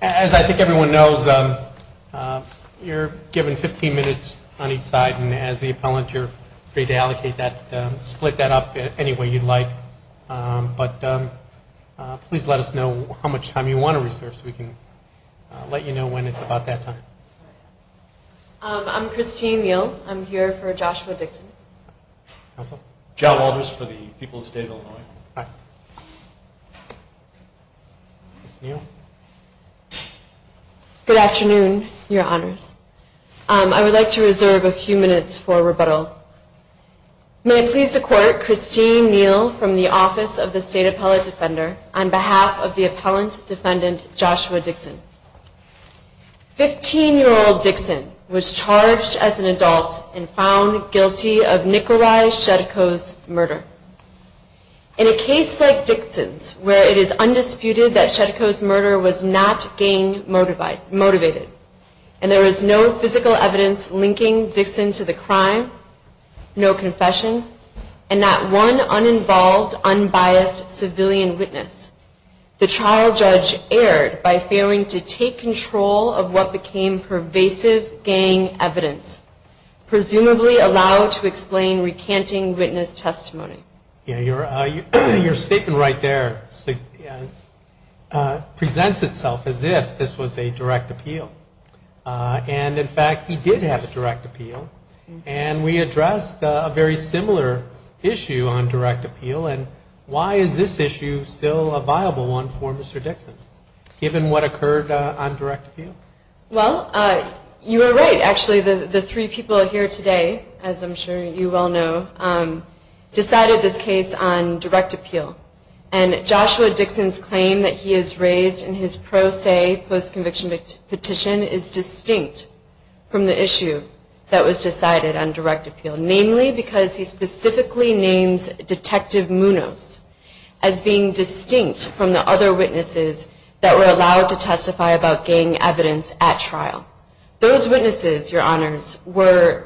As I think everyone knows, you are given 15 minutes on each side and as the appellant you are free to allocate that, split that up any way you would like, but please let us know how much time you want to reserve so we can let you know when it's about that time. I'm Christine Neal. I'm here for Joshua Dixon. Good afternoon, your honors. I would like to reserve a few minutes for rebuttal. May I please court Christine Neal from the Office of the State Appellate Defender on behalf of the appellant defendant Joshua Dixon. 15-year-old Dixon was charged as an adult and found guilty of Nicolai Shedco's murder. In a case like Dixon's, where it is undisputed that Shedco's murder was not gang-motivated and there is no physical evidence linking Dixon to the crime, no confession, and not one uninvolved unbiased civilian witness, the trial judge erred by failing to take control of what became pervasive gang evidence, presumably allowed to explain recanting witness testimony. Your statement right there presents itself as if this was a direct appeal. And in fact, he did have a direct appeal. And we addressed a very similar issue on direct appeal. And why is this issue still a viable one for Mr. Dixon, given what occurred on direct appeal? Well, you are right, actually. The three people here today, as I'm sure you all know, decided this case on direct appeal. And Joshua Dixon's claim that he is raised in his pro se post-conviction petition is distinct from the issue that was decided on direct appeal, namely because he specifically names Detective Munoz as being distinct from the other witnesses that were allowed to testify about gang evidence at trial. Those witnesses, Your Honors, were,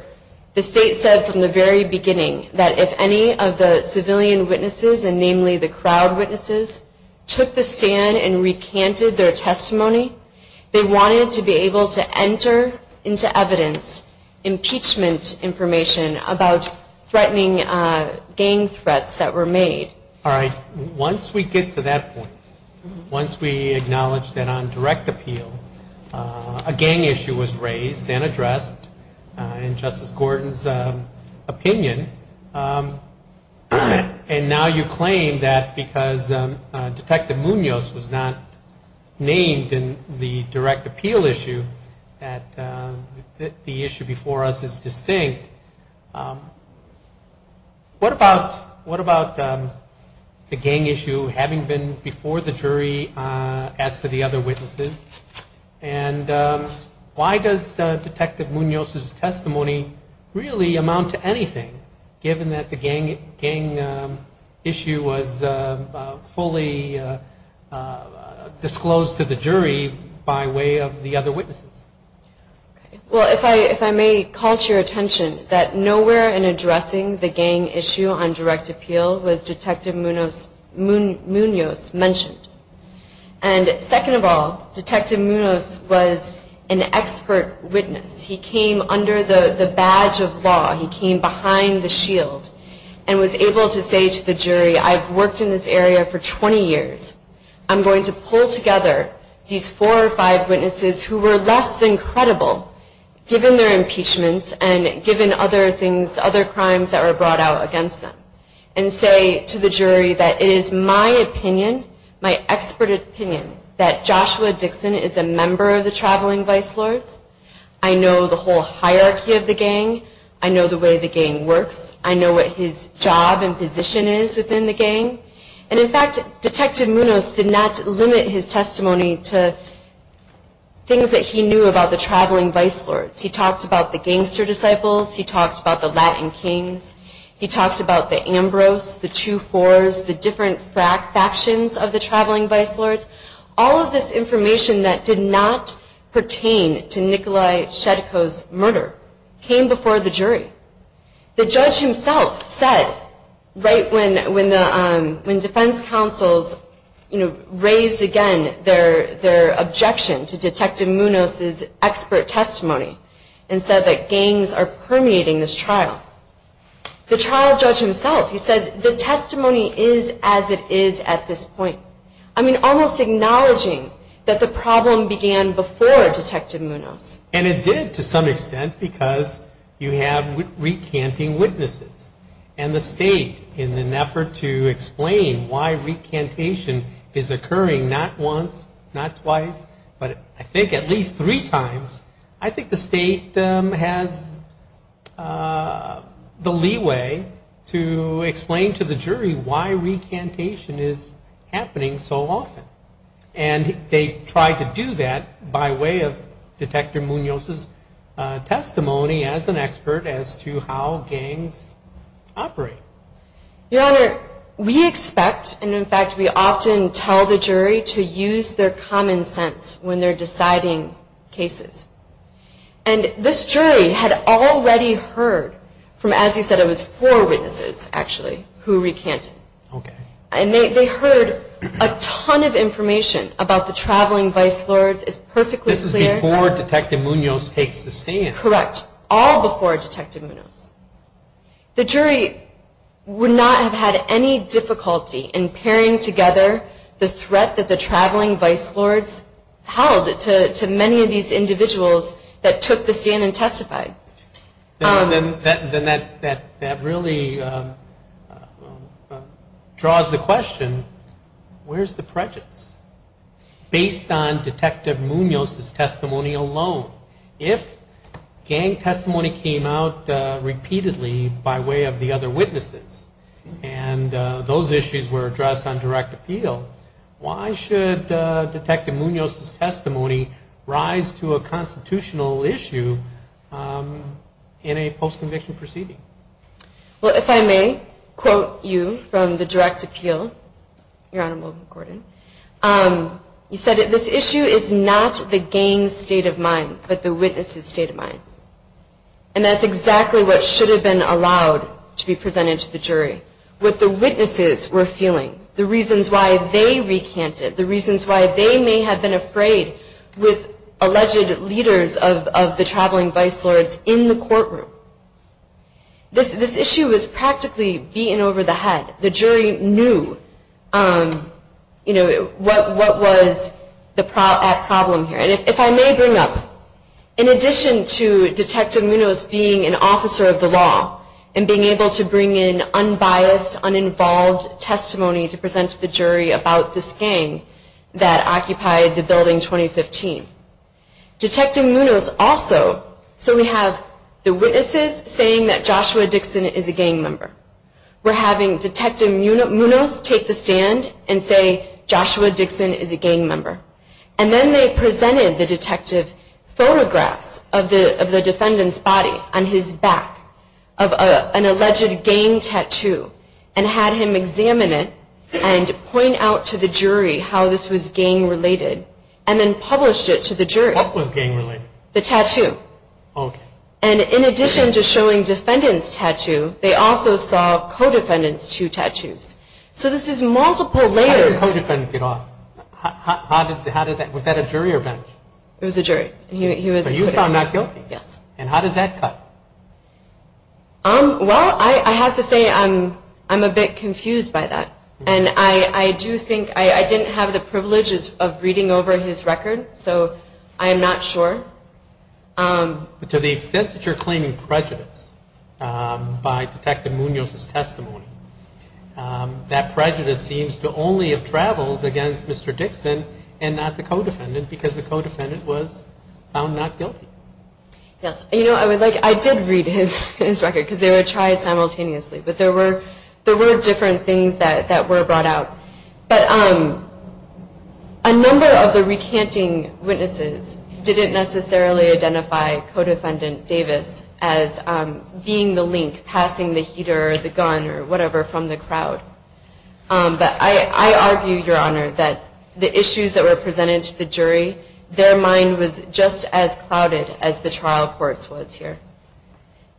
the state said from the very beginning, that if any of the civilian witnesses, and namely the crowd witnesses, took the stand and recanted their testimony, they wanted to be able to enter into evidence, impeachment information about threatening gang threats that were made. All right. Once we get to that point, once we acknowledge that on direct appeal, a gang issue was raised and addressed in Justice Gordon's opinion, and now you've got a gang issue on direct appeal. You claim that because Detective Munoz was not named in the direct appeal issue, that the issue before us is distinct. What about the gang issue having been before the jury as to the other witnesses, and why does Detective Munoz's testimony really amount to anything, given that the gang issue was fully disclosed to the jury by way of the other witnesses? Well, if I may call to your attention that nowhere in addressing the gang issue on direct appeal was Detective Munoz mentioned. And second of all, Detective Munoz was an expert witness. He came under the banner of a badge of law. He came behind the shield and was able to say to the jury, I've worked in this area for 20 years. I'm going to pull together these four or five witnesses who were less than credible, given their impeachments and given other things, other crimes that were brought out against them, and say to the jury that it is my opinion, my expert opinion, that Joshua Munoz is not a member of the gang. I know the way the gang works. I know what his job and position is within the gang. And in fact, Detective Munoz did not limit his testimony to things that he knew about the traveling vice lords. He talked about the gangster disciples. He talked about the Latin kings. He talked about the Ambrose, the two fours, the different factions of the traveling lords. He talked about the gangs. He talked about the gangs. He talked about the gangs. He talked about the gangs. And he did that before the jury. The judge himself said, right when defense counsels raised again their objection to Detective Munoz's expert testimony and said that gangs are permeating this trial, the trial judge himself, he said the testimony is as it is at this point. You have recanting witnesses. And the state, in an effort to explain why recantation is occurring not once, not twice, but I think at least three times, I think the state has the leeway to explain to the jury why recantation is happening so often. And they tried to do that by way of Detective Munoz's testimony as an expert as to how gangs operate. Your Honor, we expect, and in fact we often tell the jury to use their common sense when they're deciding cases. And this jury had already heard from, as you said, it was four witnesses actually who recanted. And they heard a ton of information about the traveling vice lords. It's perfectly clear. This is before Detective Munoz takes the stand. Correct. All before Detective Munoz. The jury would not have had any difficulty in pairing together the threat that the traveling vice lords held to many of these individuals that took the stand and testified. Then that really draws the question, where's the prejudice? Based on the evidence, where's the prejudice? Based on Detective Munoz's testimony alone. If gang testimony came out repeatedly by way of the other witnesses, and those issues were addressed on direct appeal, why should Detective Munoz's testimony rise to a constitutional issue in a post-conviction proceeding? Well, if I may quote you from the direct appeal, Your Honor, Morgan Gordon. You said this is a case where the jury is not the gang's state of mind, but the witness's state of mind. And that's exactly what should have been allowed to be presented to the jury. What the witnesses were feeling. The reasons why they recanted. The reasons why they may have been afraid with alleged leaders of the traveling vice lords in the courtroom. This issue was practically beaten over the head. The jury knew, you know, what was the problem. And if I may bring up, in addition to Detective Munoz being an officer of the law, and being able to bring in unbiased, uninvolved testimony to present to the jury about this gang that occupied the building 2015, Detective Munoz also, so we have the witnesses saying that Joshua Dixon is a gang member. We're having Detective Munoz take the stand and say Joshua Dixon is a gang member. Detective Munoz's testimony was presented to the jury. And then they presented the detective photographs of the defendant's body on his back of an alleged gang tattoo. And had him examine it and point out to the jury how this was gang related. And then published it to the jury. What was gang related? The tattoo. Okay. And in addition to showing defendant's tattoo, they also saw co-defendant's two tattoos. So this is multiple layers. So how did the co-defendant get off? Was that a jury or a bench? It was a jury. So you found not guilty. Yes. And how does that cut? Well, I have to say I'm a bit confused by that. And I do think, I didn't have the privilege of reading over his record, so I'm not sure. But to the extent that you're claiming prejudice by Detective Munoz's testimony, that prejudice seems to only have dragged on. And I'm not sure that the jury traveled against Mr. Dixon and not the co-defendant, because the co-defendant was found not guilty. Yes. You know, I did read his record, because they were tried simultaneously. But there were different things that were brought out. But a number of the recanting witnesses didn't necessarily identify co-defendant Davis as being the link passing the heater or the gun or whatever from the trial. And I can tell you, Your Honor, that the issues that were presented to the jury, their mind was just as clouded as the trial court's was here.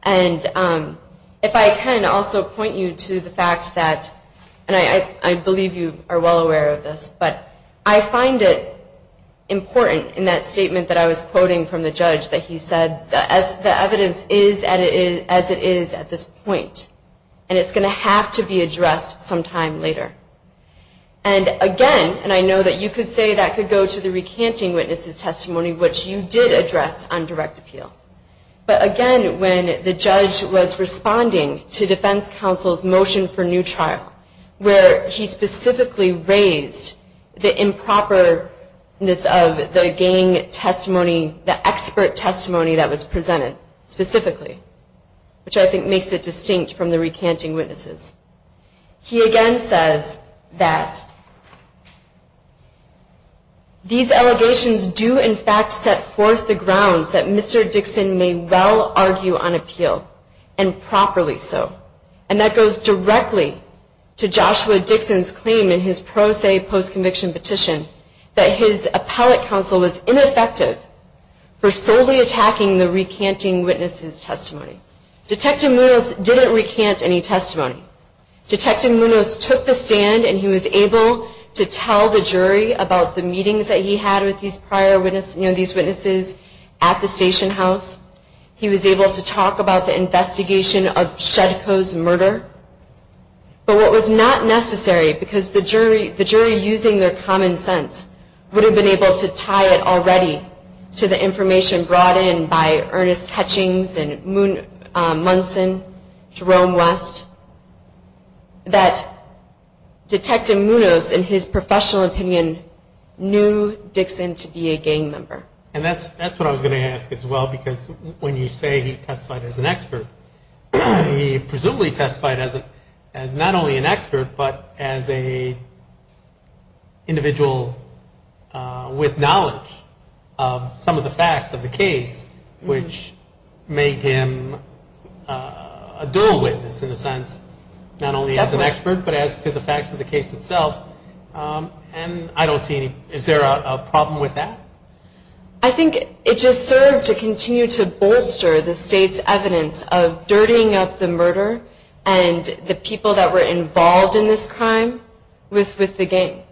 And if I can also point you to the fact that, and I believe you are well aware of this, but I find it important in that statement that I was quoting from the judge that he said, the evidence is as it is at this point. And it's going to have to be addressed sometime later. And again, and I know that you could say that could go to the recanting witnesses' testimony, which you did address on direct appeal. But again, when the judge was responding to defense counsel's motion for new trial, where he specifically raised the improperness of the gang testimony, the expert testimony that was presented specifically, which I think makes it distinct from the recanting witnesses. He again says that these allegations do in fact set forth the grounds that Mr. Dixon may well argue on appeal, and properly so. And that goes directly to Joshua Dixon's claim in his pro se post-conviction petition that his appellate counsel was ineffective for solely attacking the recanting witnesses' testimony. Detective Munoz didn't recant any testimony. He did not recant any testimony. He did not recant any testimony. He did not recant any testimony. Detective Munoz took the stand and he was able to tell the jury about the meetings that he had with these prior witnesses, these witnesses at the station house. He was able to talk about the investigation of Shedco's murder. But what was not necessary because the jury, the jury using their common sense would have been able to tie it already to the information brought in by Detective Munoz that Detective Munoz, in his professional opinion, knew Dixon to be a gang member. And that's what I was going to ask as well because when you say he testified as an expert, he presumably testified as not only an expert but as an individual with knowledge of some of the facts of the case which made him a dual witness in the sense that he knew that Dixon was a gang member. And I don't see any, is there a problem with that? I think it just served to continue to bolster the state's evidence of dirtying up the murder and the people that were involved in this crime with the gang.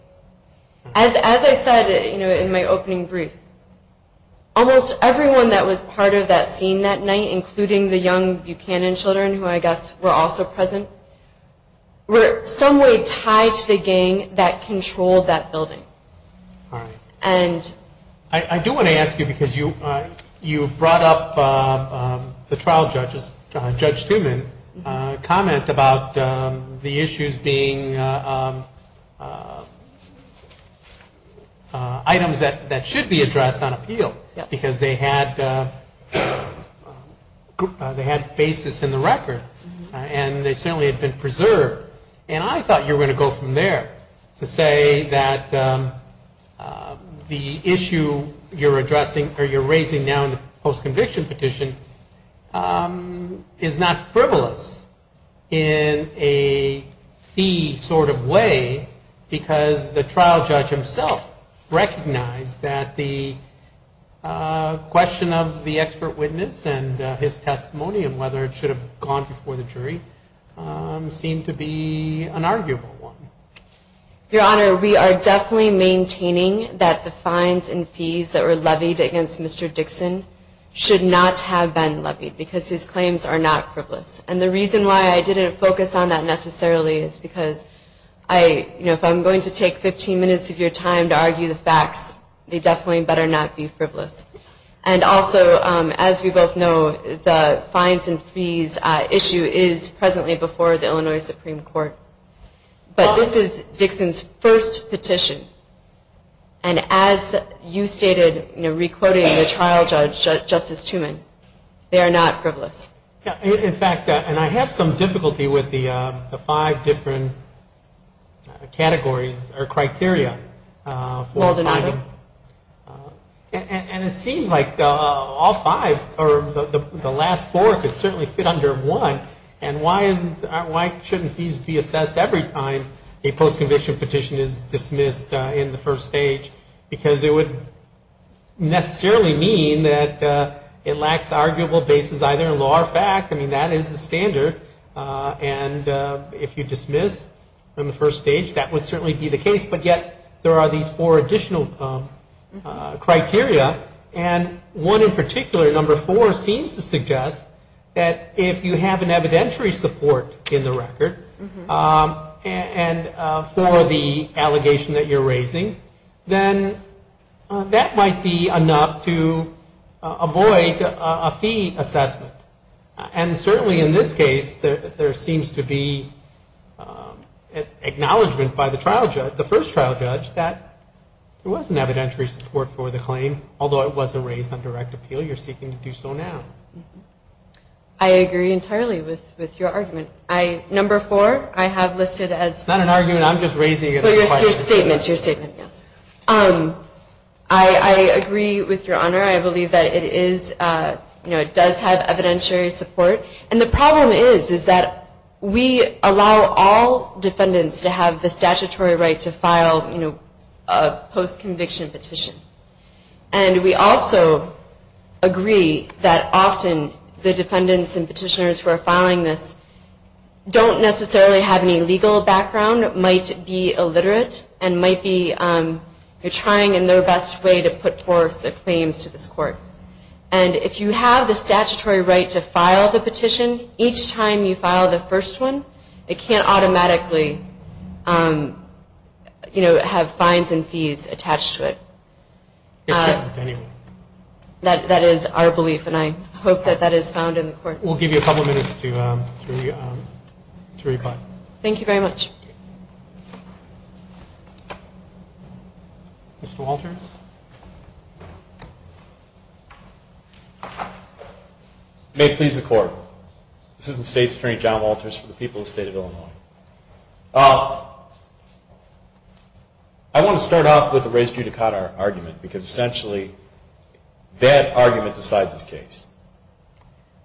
As I said in my opening brief, almost everyone that was part of that scene that night, including the young Buchanan children who I guess were also present, were in some way tied to the gang that controlled that building. I do want to ask you because you brought up the trial judge's comment about the issues being items that should be addressed on appeal because they had basis in the record and they certainly had been preserved. And I thought you were going to go from there to say that the issue you're addressing or you're raising now in the post-conviction petition is not frivolous in a fee sort of way because the trial judge himself recognized that the question of the expert witness and his testimony and whether it should have gone before the jury seemed to be an arguable one. Your Honor, we are definitely maintaining that the fines and fees that were levied against Mr. Dixon should not have been levied because his claims are not frivolous. And the reason why I didn't focus on that necessarily is because I, you know, if I'm going to take 15 minutes of your time to argue the facts, they definitely better not be frivolous. And also, as we both know, the fines and fees issue is presently before the Illinois Supreme Court. But this is Dixon's first petition. And as you stated, you know, recoding the trial judge, Justice Tumen, they are not frivolous. In fact, and I have some difficulty with the five different categories or criteria. And it seems like all five or the last four could certainly fit under one. And why shouldn't fees be assessed every time a post-conviction petition is dismissed in the first stage? Because it would necessarily mean that it lacks arguable basis either in law or fact. I mean, that is the standard. And if you dismiss in the first stage, that would certainly be the case. But yet, there are these four additional criteria. And one in particular, number four, seems to suggest that if you have an evidentiary support in the record, and for the allegation that you're raising, then that might be enough to avoid a fee assessment. And certainly in this case, there seems to be acknowledgment by the trial judge, the first trial judge, that there was an evidentiary support for the claim, although it wasn't raised on direct appeal. You're seeking to do so now. I agree entirely with your argument. Number four, I have listed as Not an argument. I'm just raising it as a question. Your statement, yes. I agree with Your Honor. I believe that it is, you know, it does have evidentiary support. And the problem is, is that we allow all defendants to have the statutory right to file, you know, a postconviction petition. And we also agree that often the defendants and petitioners who are filing this don't necessarily have any legal background, might be illiterate, and might be trying in their best way to put forth their claims to this court. And if you have the statutory right to file the petition, each time you file the first one, it can't automatically, you know, have fines and fees attached to it. That is our belief, and I hope that that is found in the court. We'll give you a couple of minutes to reply. Thank you very much. Mr. Walters? May it please the Court, this is the State's Attorney John Walters for the people of the State of Illinois. I want to start off with the raised judicata argument, because essentially that argument decides this case.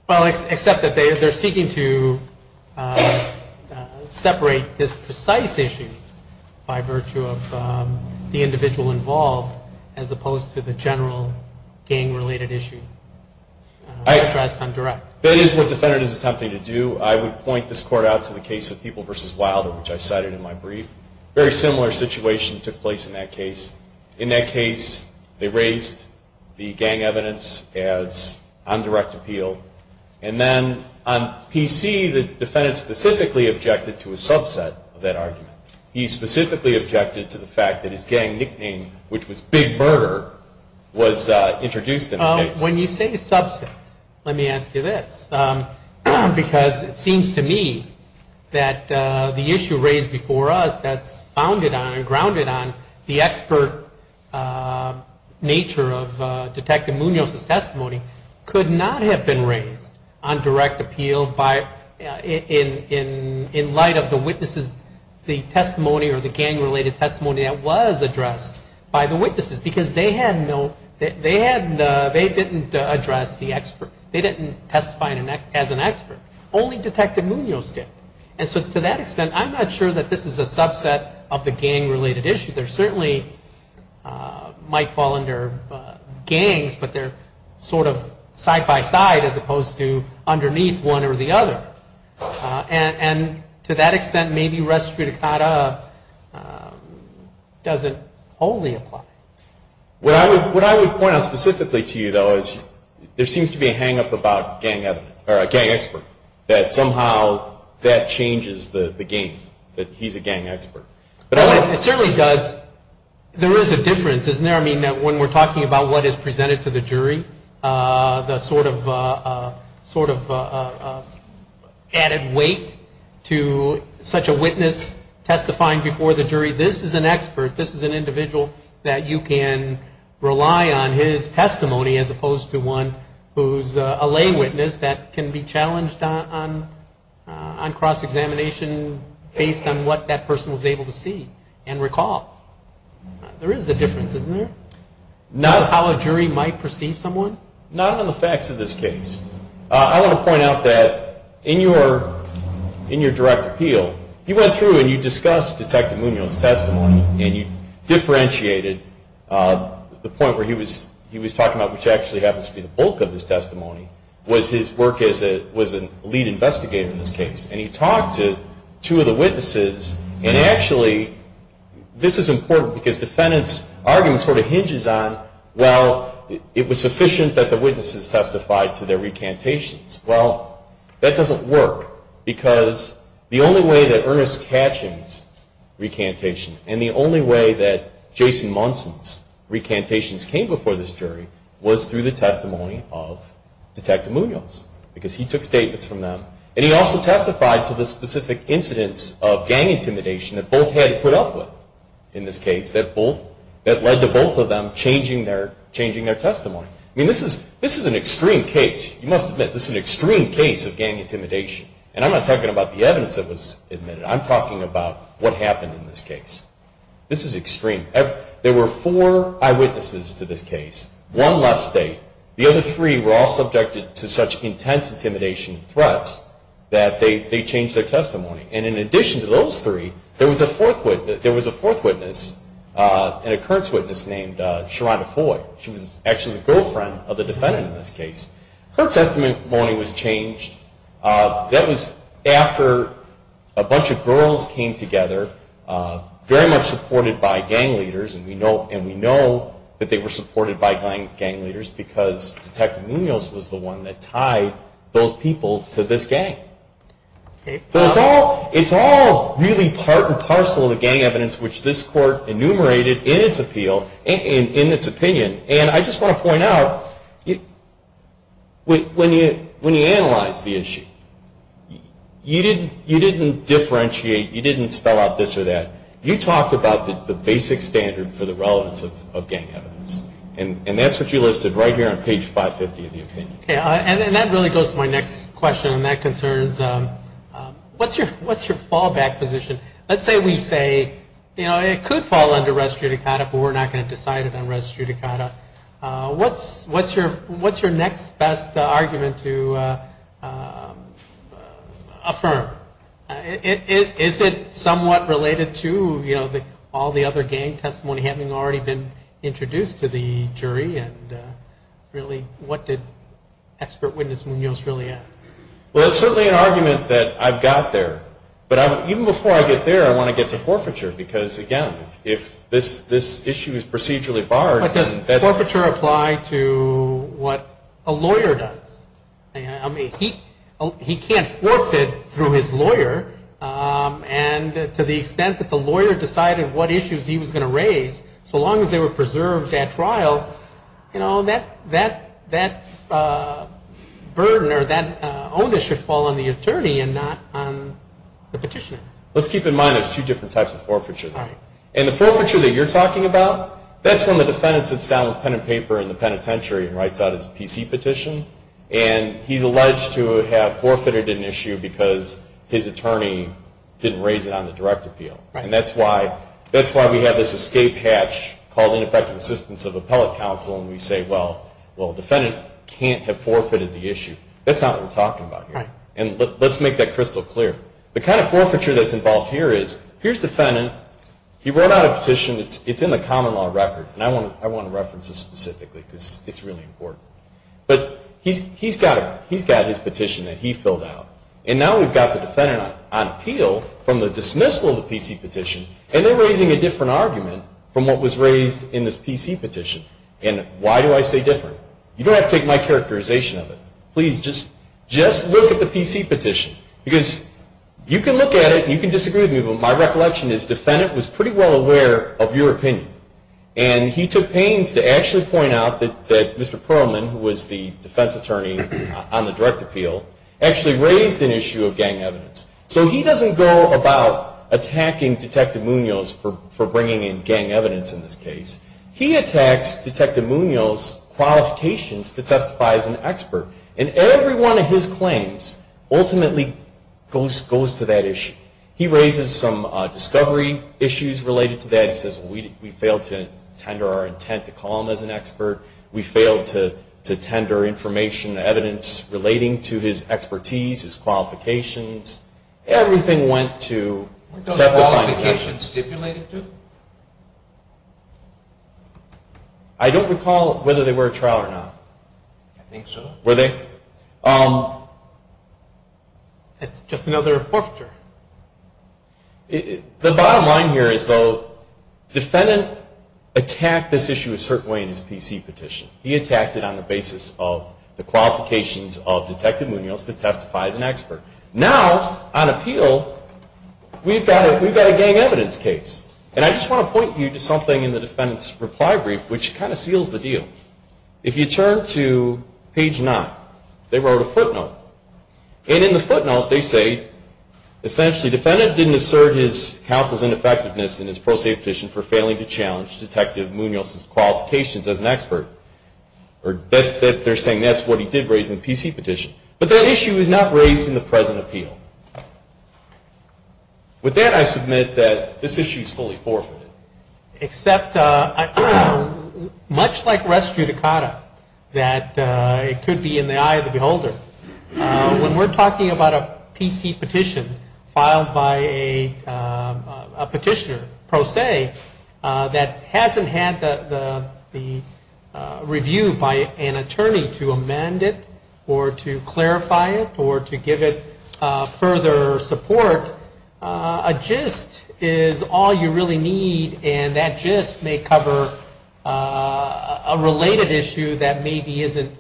Well, except that they're seeking to separate this precise issue by virtue of the individual involved, as opposed to the general gang-related issue addressed on direct. That is what the defendant is attempting to do. I would point this court out to the case of People v. Wilder, which I cited in my brief. Very similar situation took place in that case. In that case, they raised the gang evidence as on direct evidence. And then on PC, the defendant specifically objected to a subset of that argument. He specifically objected to the fact that his gang nickname, which was Big Murder, was introduced in the case. When you say subset, let me ask you this, because it seems to me that the issue raised before us that's founded on and grounded on the expert nature of Detective Munoz's testimony could not have been raised on direct evidence. It could not have been raised on direct appeal in light of the witnesses, the testimony or the gang-related testimony that was addressed by the witnesses, because they didn't address the expert. They didn't testify as an expert. Only Detective Munoz did. And so to that extent, I'm not sure that this is a subset of the gang-related issue. There certainly might fall under gangs, but they're sort of side-by-side as opposed to underneath one or the other. And to that extent, maybe res judicata doesn't wholly apply. What I would point out specifically to you, though, is there seems to be a hangup about a gang expert, that somehow that doesn't apply. Because there is a difference, isn't there? I mean, when we're talking about what is presented to the jury, the sort of added weight to such a witness testifying before the jury, this is an expert, this is an individual that you can rely on his testimony as opposed to one who's a lay witness that can be challenged on cross-examination based on what that person was saying. There is a difference, isn't there? How a jury might perceive someone? Not on the facts of this case. I want to point out that in your direct appeal, you went through and you discussed Detective Munoz' testimony, and you differentiated the point where he was talking about, which actually happens to be the bulk of his testimony, was his work as a lead investigator in this case. And he talked to two of the witnesses, and actually, this is important. Because defendant's argument sort of hinges on, well, it was sufficient that the witnesses testified to their recantations. Well, that doesn't work, because the only way that Ernest Catchings' recantation and the only way that Jason Munson's recantations came before this jury was through the testimony of Detective Munoz, because he took statements from them. And he also testified to specific incidents of gang intimidation that both had to put up with in this case that led to both of them changing their testimony. I mean, this is an extreme case. You must admit, this is an extreme case of gang intimidation. And I'm not talking about the evidence that was admitted. I'm talking about what happened in this case. This is extreme. There were four eyewitnesses to this case. One left state. The other three were all subjected to such intense intimidation threats that they changed their testimony. And in addition to those three, there was a fourth witness, an occurrence witness named Sharonda Foy. She was actually the girlfriend of the defendant in this case. Her testimony was changed. That was after a bunch of girls came together, very much supported by gang leaders. And we know that they were supported by gang leaders, because Detective Munoz was the one that tied those people to this gang. So it's all really part and parcel of the gang evidence which this court enumerated in its appeal, in its opinion. And I just want to point out, when you analyze the issue, you didn't differentiate, you didn't spell out this or that. You talked about the basic standard for the relevance of gang evidence. And that's what you listed right here on page 550 of the opinion. And that really goes to my next question, and that concerns what's your fallback position? Let's say we say, you know, it could fall under res judicata, but we're not going to decide it on res judicata. What's your next best argument to affirm? Is it somewhat related to, you know, all the other gang testimony having already been introduced to the jury? And really, what did expert witness Munoz really add? Well, it's certainly an argument that I've got there. But even before I get there, I want to get to forfeiture. Because, again, if this issue is procedurally barred... But does forfeiture apply to what a lawyer does? I mean, he can't forfeit through his lawyer. And to the extent that the lawyer decided what issues he was going to raise, so long as they were preserved at trial, you know, that burden or that onus should fall on the attorney and not on the petitioner. Let's keep in mind there's two different types of forfeiture. And the forfeiture that you're talking about, that's when the defendant sits down with pen and paper in the penitentiary and writes out his PC petition. And he's alleged to have forfeited an issue that's why we have this escape hatch called ineffective assistance of appellate counsel. And we say, well, defendant can't have forfeited the issue. That's not what we're talking about here. And let's make that crystal clear. The kind of forfeiture that's involved here is, here's defendant. He wrote out a petition. It's in the common law record. And I want to reference this specifically because it's really important. But he's got his petition that he filled out. And now we've got the defendant on appeal from the dismissal of the PC petition. And they're raising a different argument from what was raised in this PC petition. And why do I say different? You don't have to take my characterization of it. Please, just look at the PC petition. Because you can look at it and you can disagree with me, but my recollection is the defendant was pretty well aware of your opinion. And he took pains to actually point out that Mr. Perlman, who was the defense attorney on the direct appeal, actually raised an issue of gang evidence. So he doesn't go about attacking Detective Munoz for bringing in gang evidence in this case. He attacks Detective Munoz's qualifications to testify as an expert. And every one of his claims ultimately goes to that issue. He raises some discovery issues related to that. He says, well, we failed to tender our intent to call him as an expert. We failed to tender information and evidence relating to his expertise, his qualifications. Everything went to testifying as an expert. I don't recall whether they were a trial or not. Were they? That's just another forfeiture. The bottom line here is, though, defendant attacked Detective Munoz's qualifications. He attacked this issue a certain way in his PC petition. He attacked it on the basis of the qualifications of Detective Munoz to testify as an expert. Now, on appeal, we've got a gang evidence case. And I just want to point you to something in the defendant's reply brief, which kind of seals the deal. If you turn to page 9, they wrote a footnote. And in the footnote they say, essentially defendant didn't assert his counsel's ineffectiveness in his pro se petition for failing to challenge Detective Munoz's qualifications as an expert. They're saying that's what he did raise in the PC petition. But that issue is not raised in the present appeal. With that, I submit that this issue is fully forfeited. Except much like res judicata, that it could be in the eye of the beholder, when we're talking about a PC petition filed by a lawyer, and we allow the review by an attorney to amend it or to clarify it or to give it further support, a gist is all you really need. And that gist may cover a related issue that maybe isn't,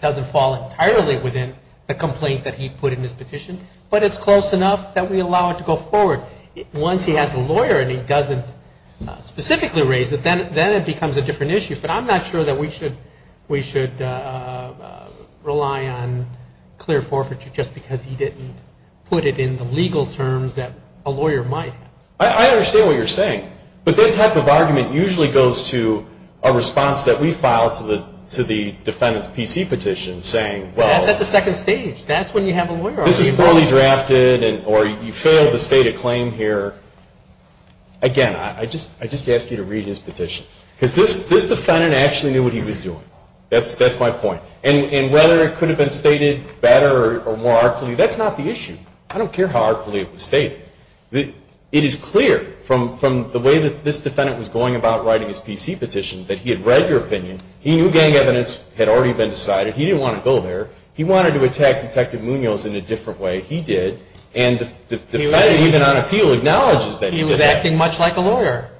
doesn't fall entirely within the complaint that he put in his petition. But it's close enough that we allow it to go forward. Once he has a lawyer and he doesn't specifically raise it, then it becomes a different issue. But I'm not sure that we should rely on clear forfeiture just because he didn't put it in the legal terms that a lawyer might have. I understand what you're saying. But that type of argument usually goes to a response that we file to the defendant's PC petition saying, well, this is poorly drafted or you failed the stated claim here. Again, I just ask you to read his petition. Because this defendant actually knew what he was doing. That's my point. And whether it could have been stated better or more artfully, that's not the issue. I don't care how artfully it was stated. It is clear from the way that this defendant was going about writing his PC petition that he had read your opinion. He knew gang evidence had already been decided. He didn't want to go there. He wanted to attack Detective Munoz in a different way. He did. And the defendant, even on appeal, acknowledges that he did that. He's acting much like a lawyer.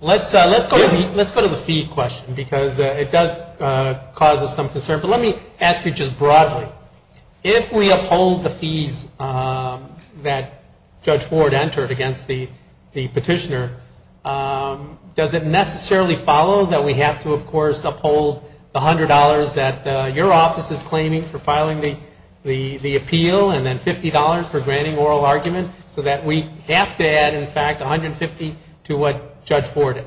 Let's go to the fee question. Because it does cause us some concern. But let me ask you just broadly. If we uphold the fees that Judge Ford entered against the petitioner, does it necessarily follow that we have to, of course, uphold the $100 that your office is claiming for filing the appeal and then $50 for granting oral argument? So that we have to add, in fact, a $100 that we have to add $150 to what Judge Ford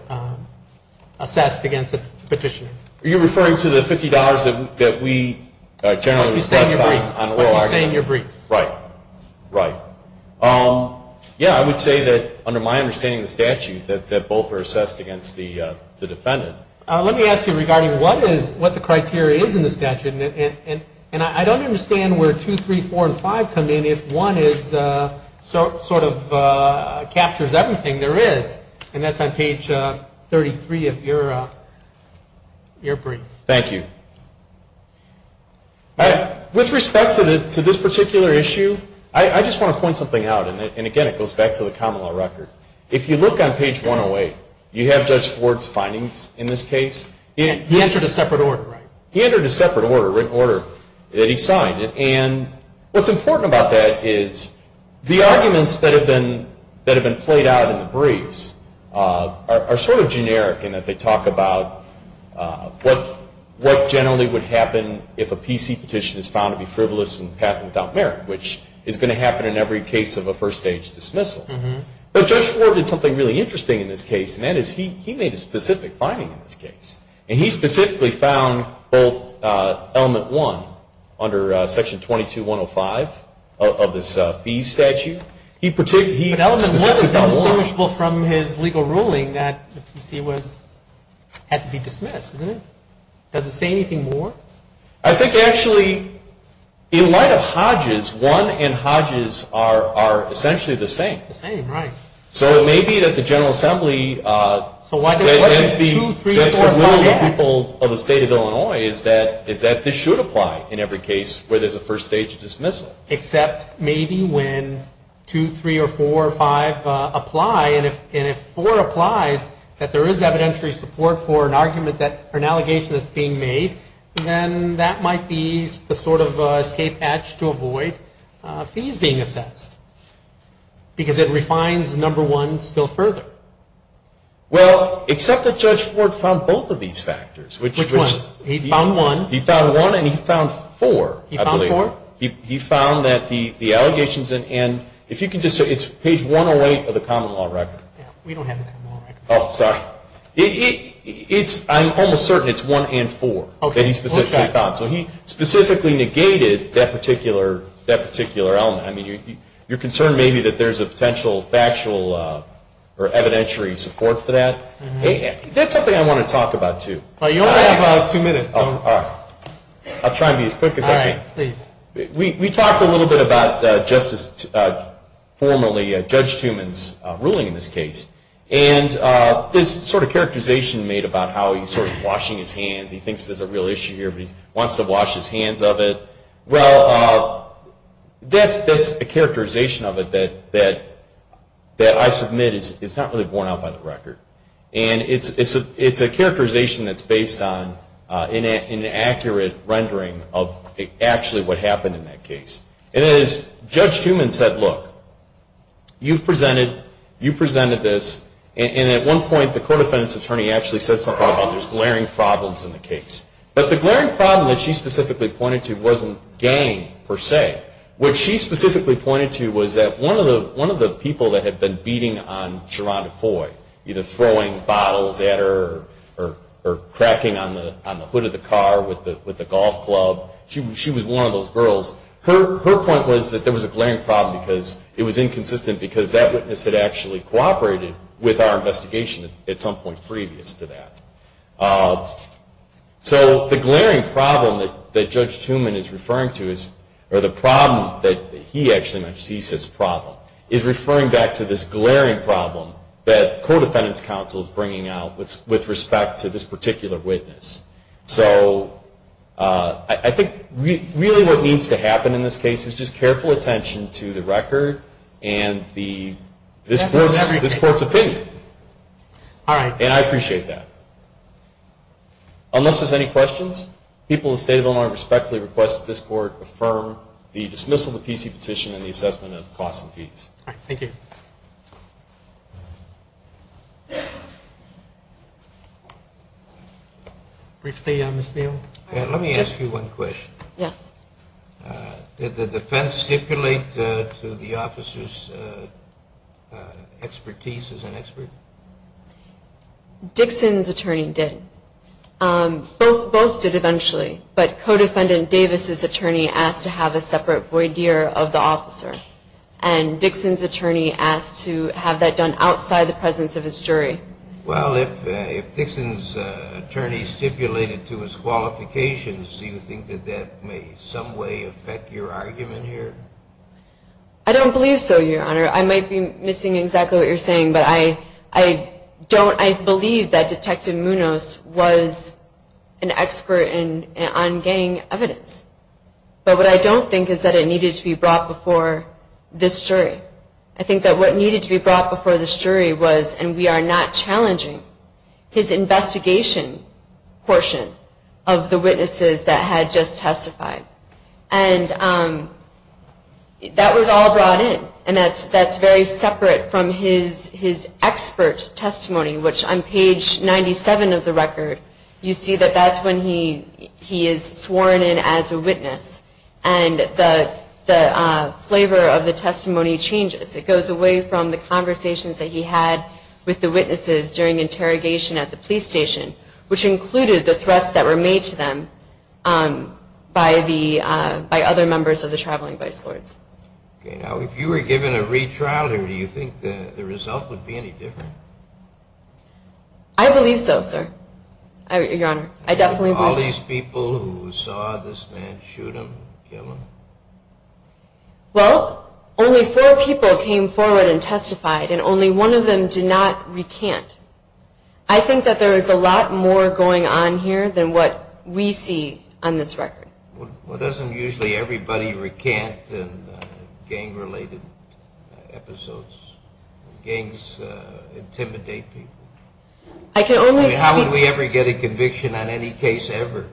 assessed against the petitioner. Are you referring to the $50 that we generally request on oral argument? What you say in your brief. Right. Right. Yeah, I would say that, under my understanding of the statute, that both are assessed against the defendant. Let me ask you regarding what the criteria is in the statute. And I don't understand where 2, 3, 4, and 5 come in if 1 is sort of captures everything there is. And that's on page 33 of your brief. Thank you. With respect to this particular issue, I just want to point something out. And again, it goes back to the common law record. If you look on page 108, you have Judge Ford's findings in this case. He entered a separate order, right? That have been played out in the briefs are sort of generic in that they talk about what generally would happen if a PC petition is found to be frivolous and path without merit, which is going to happen in every case of a first-stage dismissal. But Judge Ford did something really interesting in this case, and that is he made a specific finding in this case. And he specifically found both element 1 under section 22-105 of this fee statute. But element 1 is distinguishable from his legal ruling that the PC had to be dismissed, isn't it? Does it say anything more? I think actually in light of Hodges, 1 and Hodges are essentially the same. So it may be that the General Assembly, that's the rule of the people of the state of Illinois, is that this should apply in every first-stage dismissal. Except maybe when 2, 3, or 4, or 5 apply, and if 4 applies, that there is evidentiary support for an allegation that's being made, then that might be the sort of escape hatch to avoid fees being assessed. Because it refines number 1 still further. Well, except that Judge Ford found both of these factors. He found that the allegations, and if you can just, it's page 108 of the common law record. We don't have the common law record. Oh, sorry. I'm almost certain it's 1 and 4 that he specifically found. So he specifically negated that particular element. I mean, you're concerned maybe that there's a potential factual or evidentiary support for that? That's something I want to talk about, too. You only have two minutes. We talked a little bit about Justice, formerly Judge Tuman's ruling in this case. And this sort of characterization made about how he's sort of washing his hands. He thinks there's a real issue here, but he wants to wash his hands of it. Well, that's a characterization of it that I submit is not really borne out by the record. And it's a characterization that's based on an accurate rendering of actually what happened in that case. And it is, Judge Tuman said, look, you've presented this, and at one point, the co-defendant's attorney actually said something about there's glaring problems in the case. But the glaring problem that she specifically pointed to wasn't gang, per se. What she specifically pointed to was that one of the people that had been beating on Sharonda Foy, either throwing bottles at her or cracking on the hood of the car with the golf club, she was one of those girls, her point was that there was a glaring problem because it was inconsistent because that witness had actually cooperated with our investigation at some point previous to that. So the glaring problem that Judge Tuman is referring to, or the problem that he actually mentions, he says problem, is referring back to this glaring problem that co-defendant's counsel is bringing out with respect to this particular witness. So I think really what needs to happen in this case is just careful attention to the record and this Court's opinion. And I appreciate that. Unless there's any questions, the people of the State of Illinois respectfully request that this Court affirm the dismissal of the PC petition and the assessment of costs and fees. Let me ask you one question. Yes. Did the defense stipulate to the officer's expertise as an expert? Dixon's attorney did. Both did eventually, but co-defendant Davis's attorney asked to have a separate voir dire of the officer. And Dixon's attorney asked to have that done outside the presence of his jury. Well, if Dixon's attorney stipulated to his qualifications, do you think that that may some way affect your argument here? I don't believe so, Your Honor. I might be missing exactly what you're saying, but I believe that Detective Munoz was an expert in on-gang evidence. But what I don't think is that it needed to be brought before this jury. I think that what needed to be brought before this jury was, and we are not challenging, his investigation portion of the witnesses that had just testified. And that was all brought in. And that's very separate from his expert testimony, which on page 97 of the record, you see that that's when he is sworn in as a witness. And the flavor of the testimony changes. It goes away from the conversations that he had with the witnesses during interrogation at the police station, which included the threats that were made to them by other members of the traveling vice lords. Now, if you were given a retrial, do you think the result would be any different? I believe so, sir. Well, only four people came forward and testified, and only one of them did not recant. I think that there is a lot more going on here than what we see on this record. Well, doesn't usually everybody recant in gang-related episodes? Gangs intimidate people. I mean, how would we ever get a conviction on any case ever?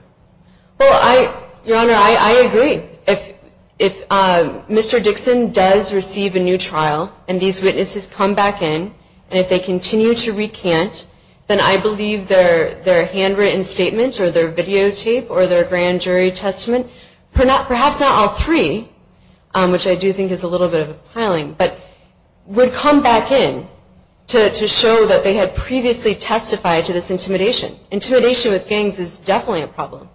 Well, Your Honor, I agree. If Mr. Dixon does receive a new trial, and these witnesses come back in, and if they continue to recant, then I believe their handwritten statements or their videotape or their grand jury testament, perhaps not all three, which I do think is a little bit of a piling, but would come back in to show that they had previously testified to this intimidation. Intimidation with gangs is definitely a problem,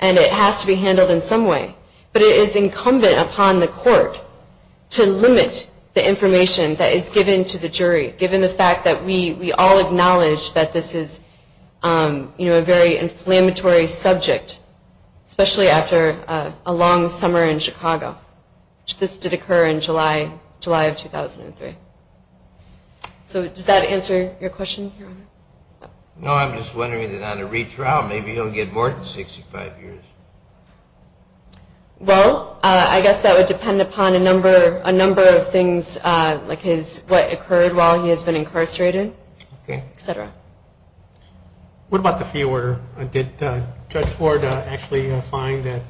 and it has to be handled in some way. But it is incumbent upon the court to limit the information that is given to the jury, given the fact that we all acknowledge that this is a very inflammatory subject, especially after a long summer in Chicago. This did occur in July of 2003. So does that answer your question, Your Honor? No, I'm just wondering that on a retrial, maybe he'll get more than 65 years. Well, I guess that would depend upon a number of things, like what occurred while he has been incarcerated, etc. What about the fee order? Did Judge Ford actually find that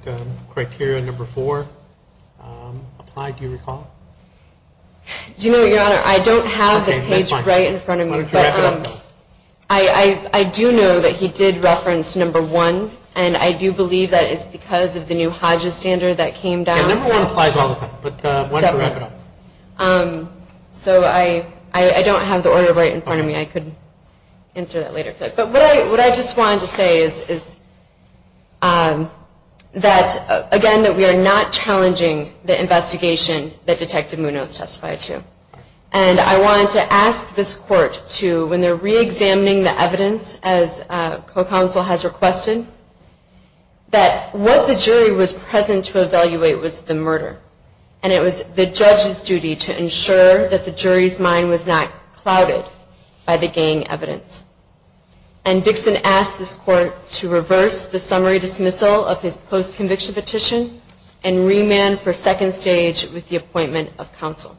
criteria number four applied, do you recall? Do you know, Your Honor, I don't have the page right in front of me. I do know that he did reference number one, and I do believe that is because of the new Hodges standard that came down. Yeah, number one applies all the time. So I don't have the order right in front of me. The only thing I can say is that, again, that we are not challenging the investigation that Detective Munoz testified to. And I wanted to ask this court to, when they're reexamining the evidence, as co-counsel has requested, that what the jury was present to evaluate was the murder. And it was the judge's duty to ensure that the jury's mind was not clouded by the gang evidence. And Dixon asked this court to reverse the summary dismissal of his post-conviction petition, and remand for second stage with the appointment of counsel. Thank you very much.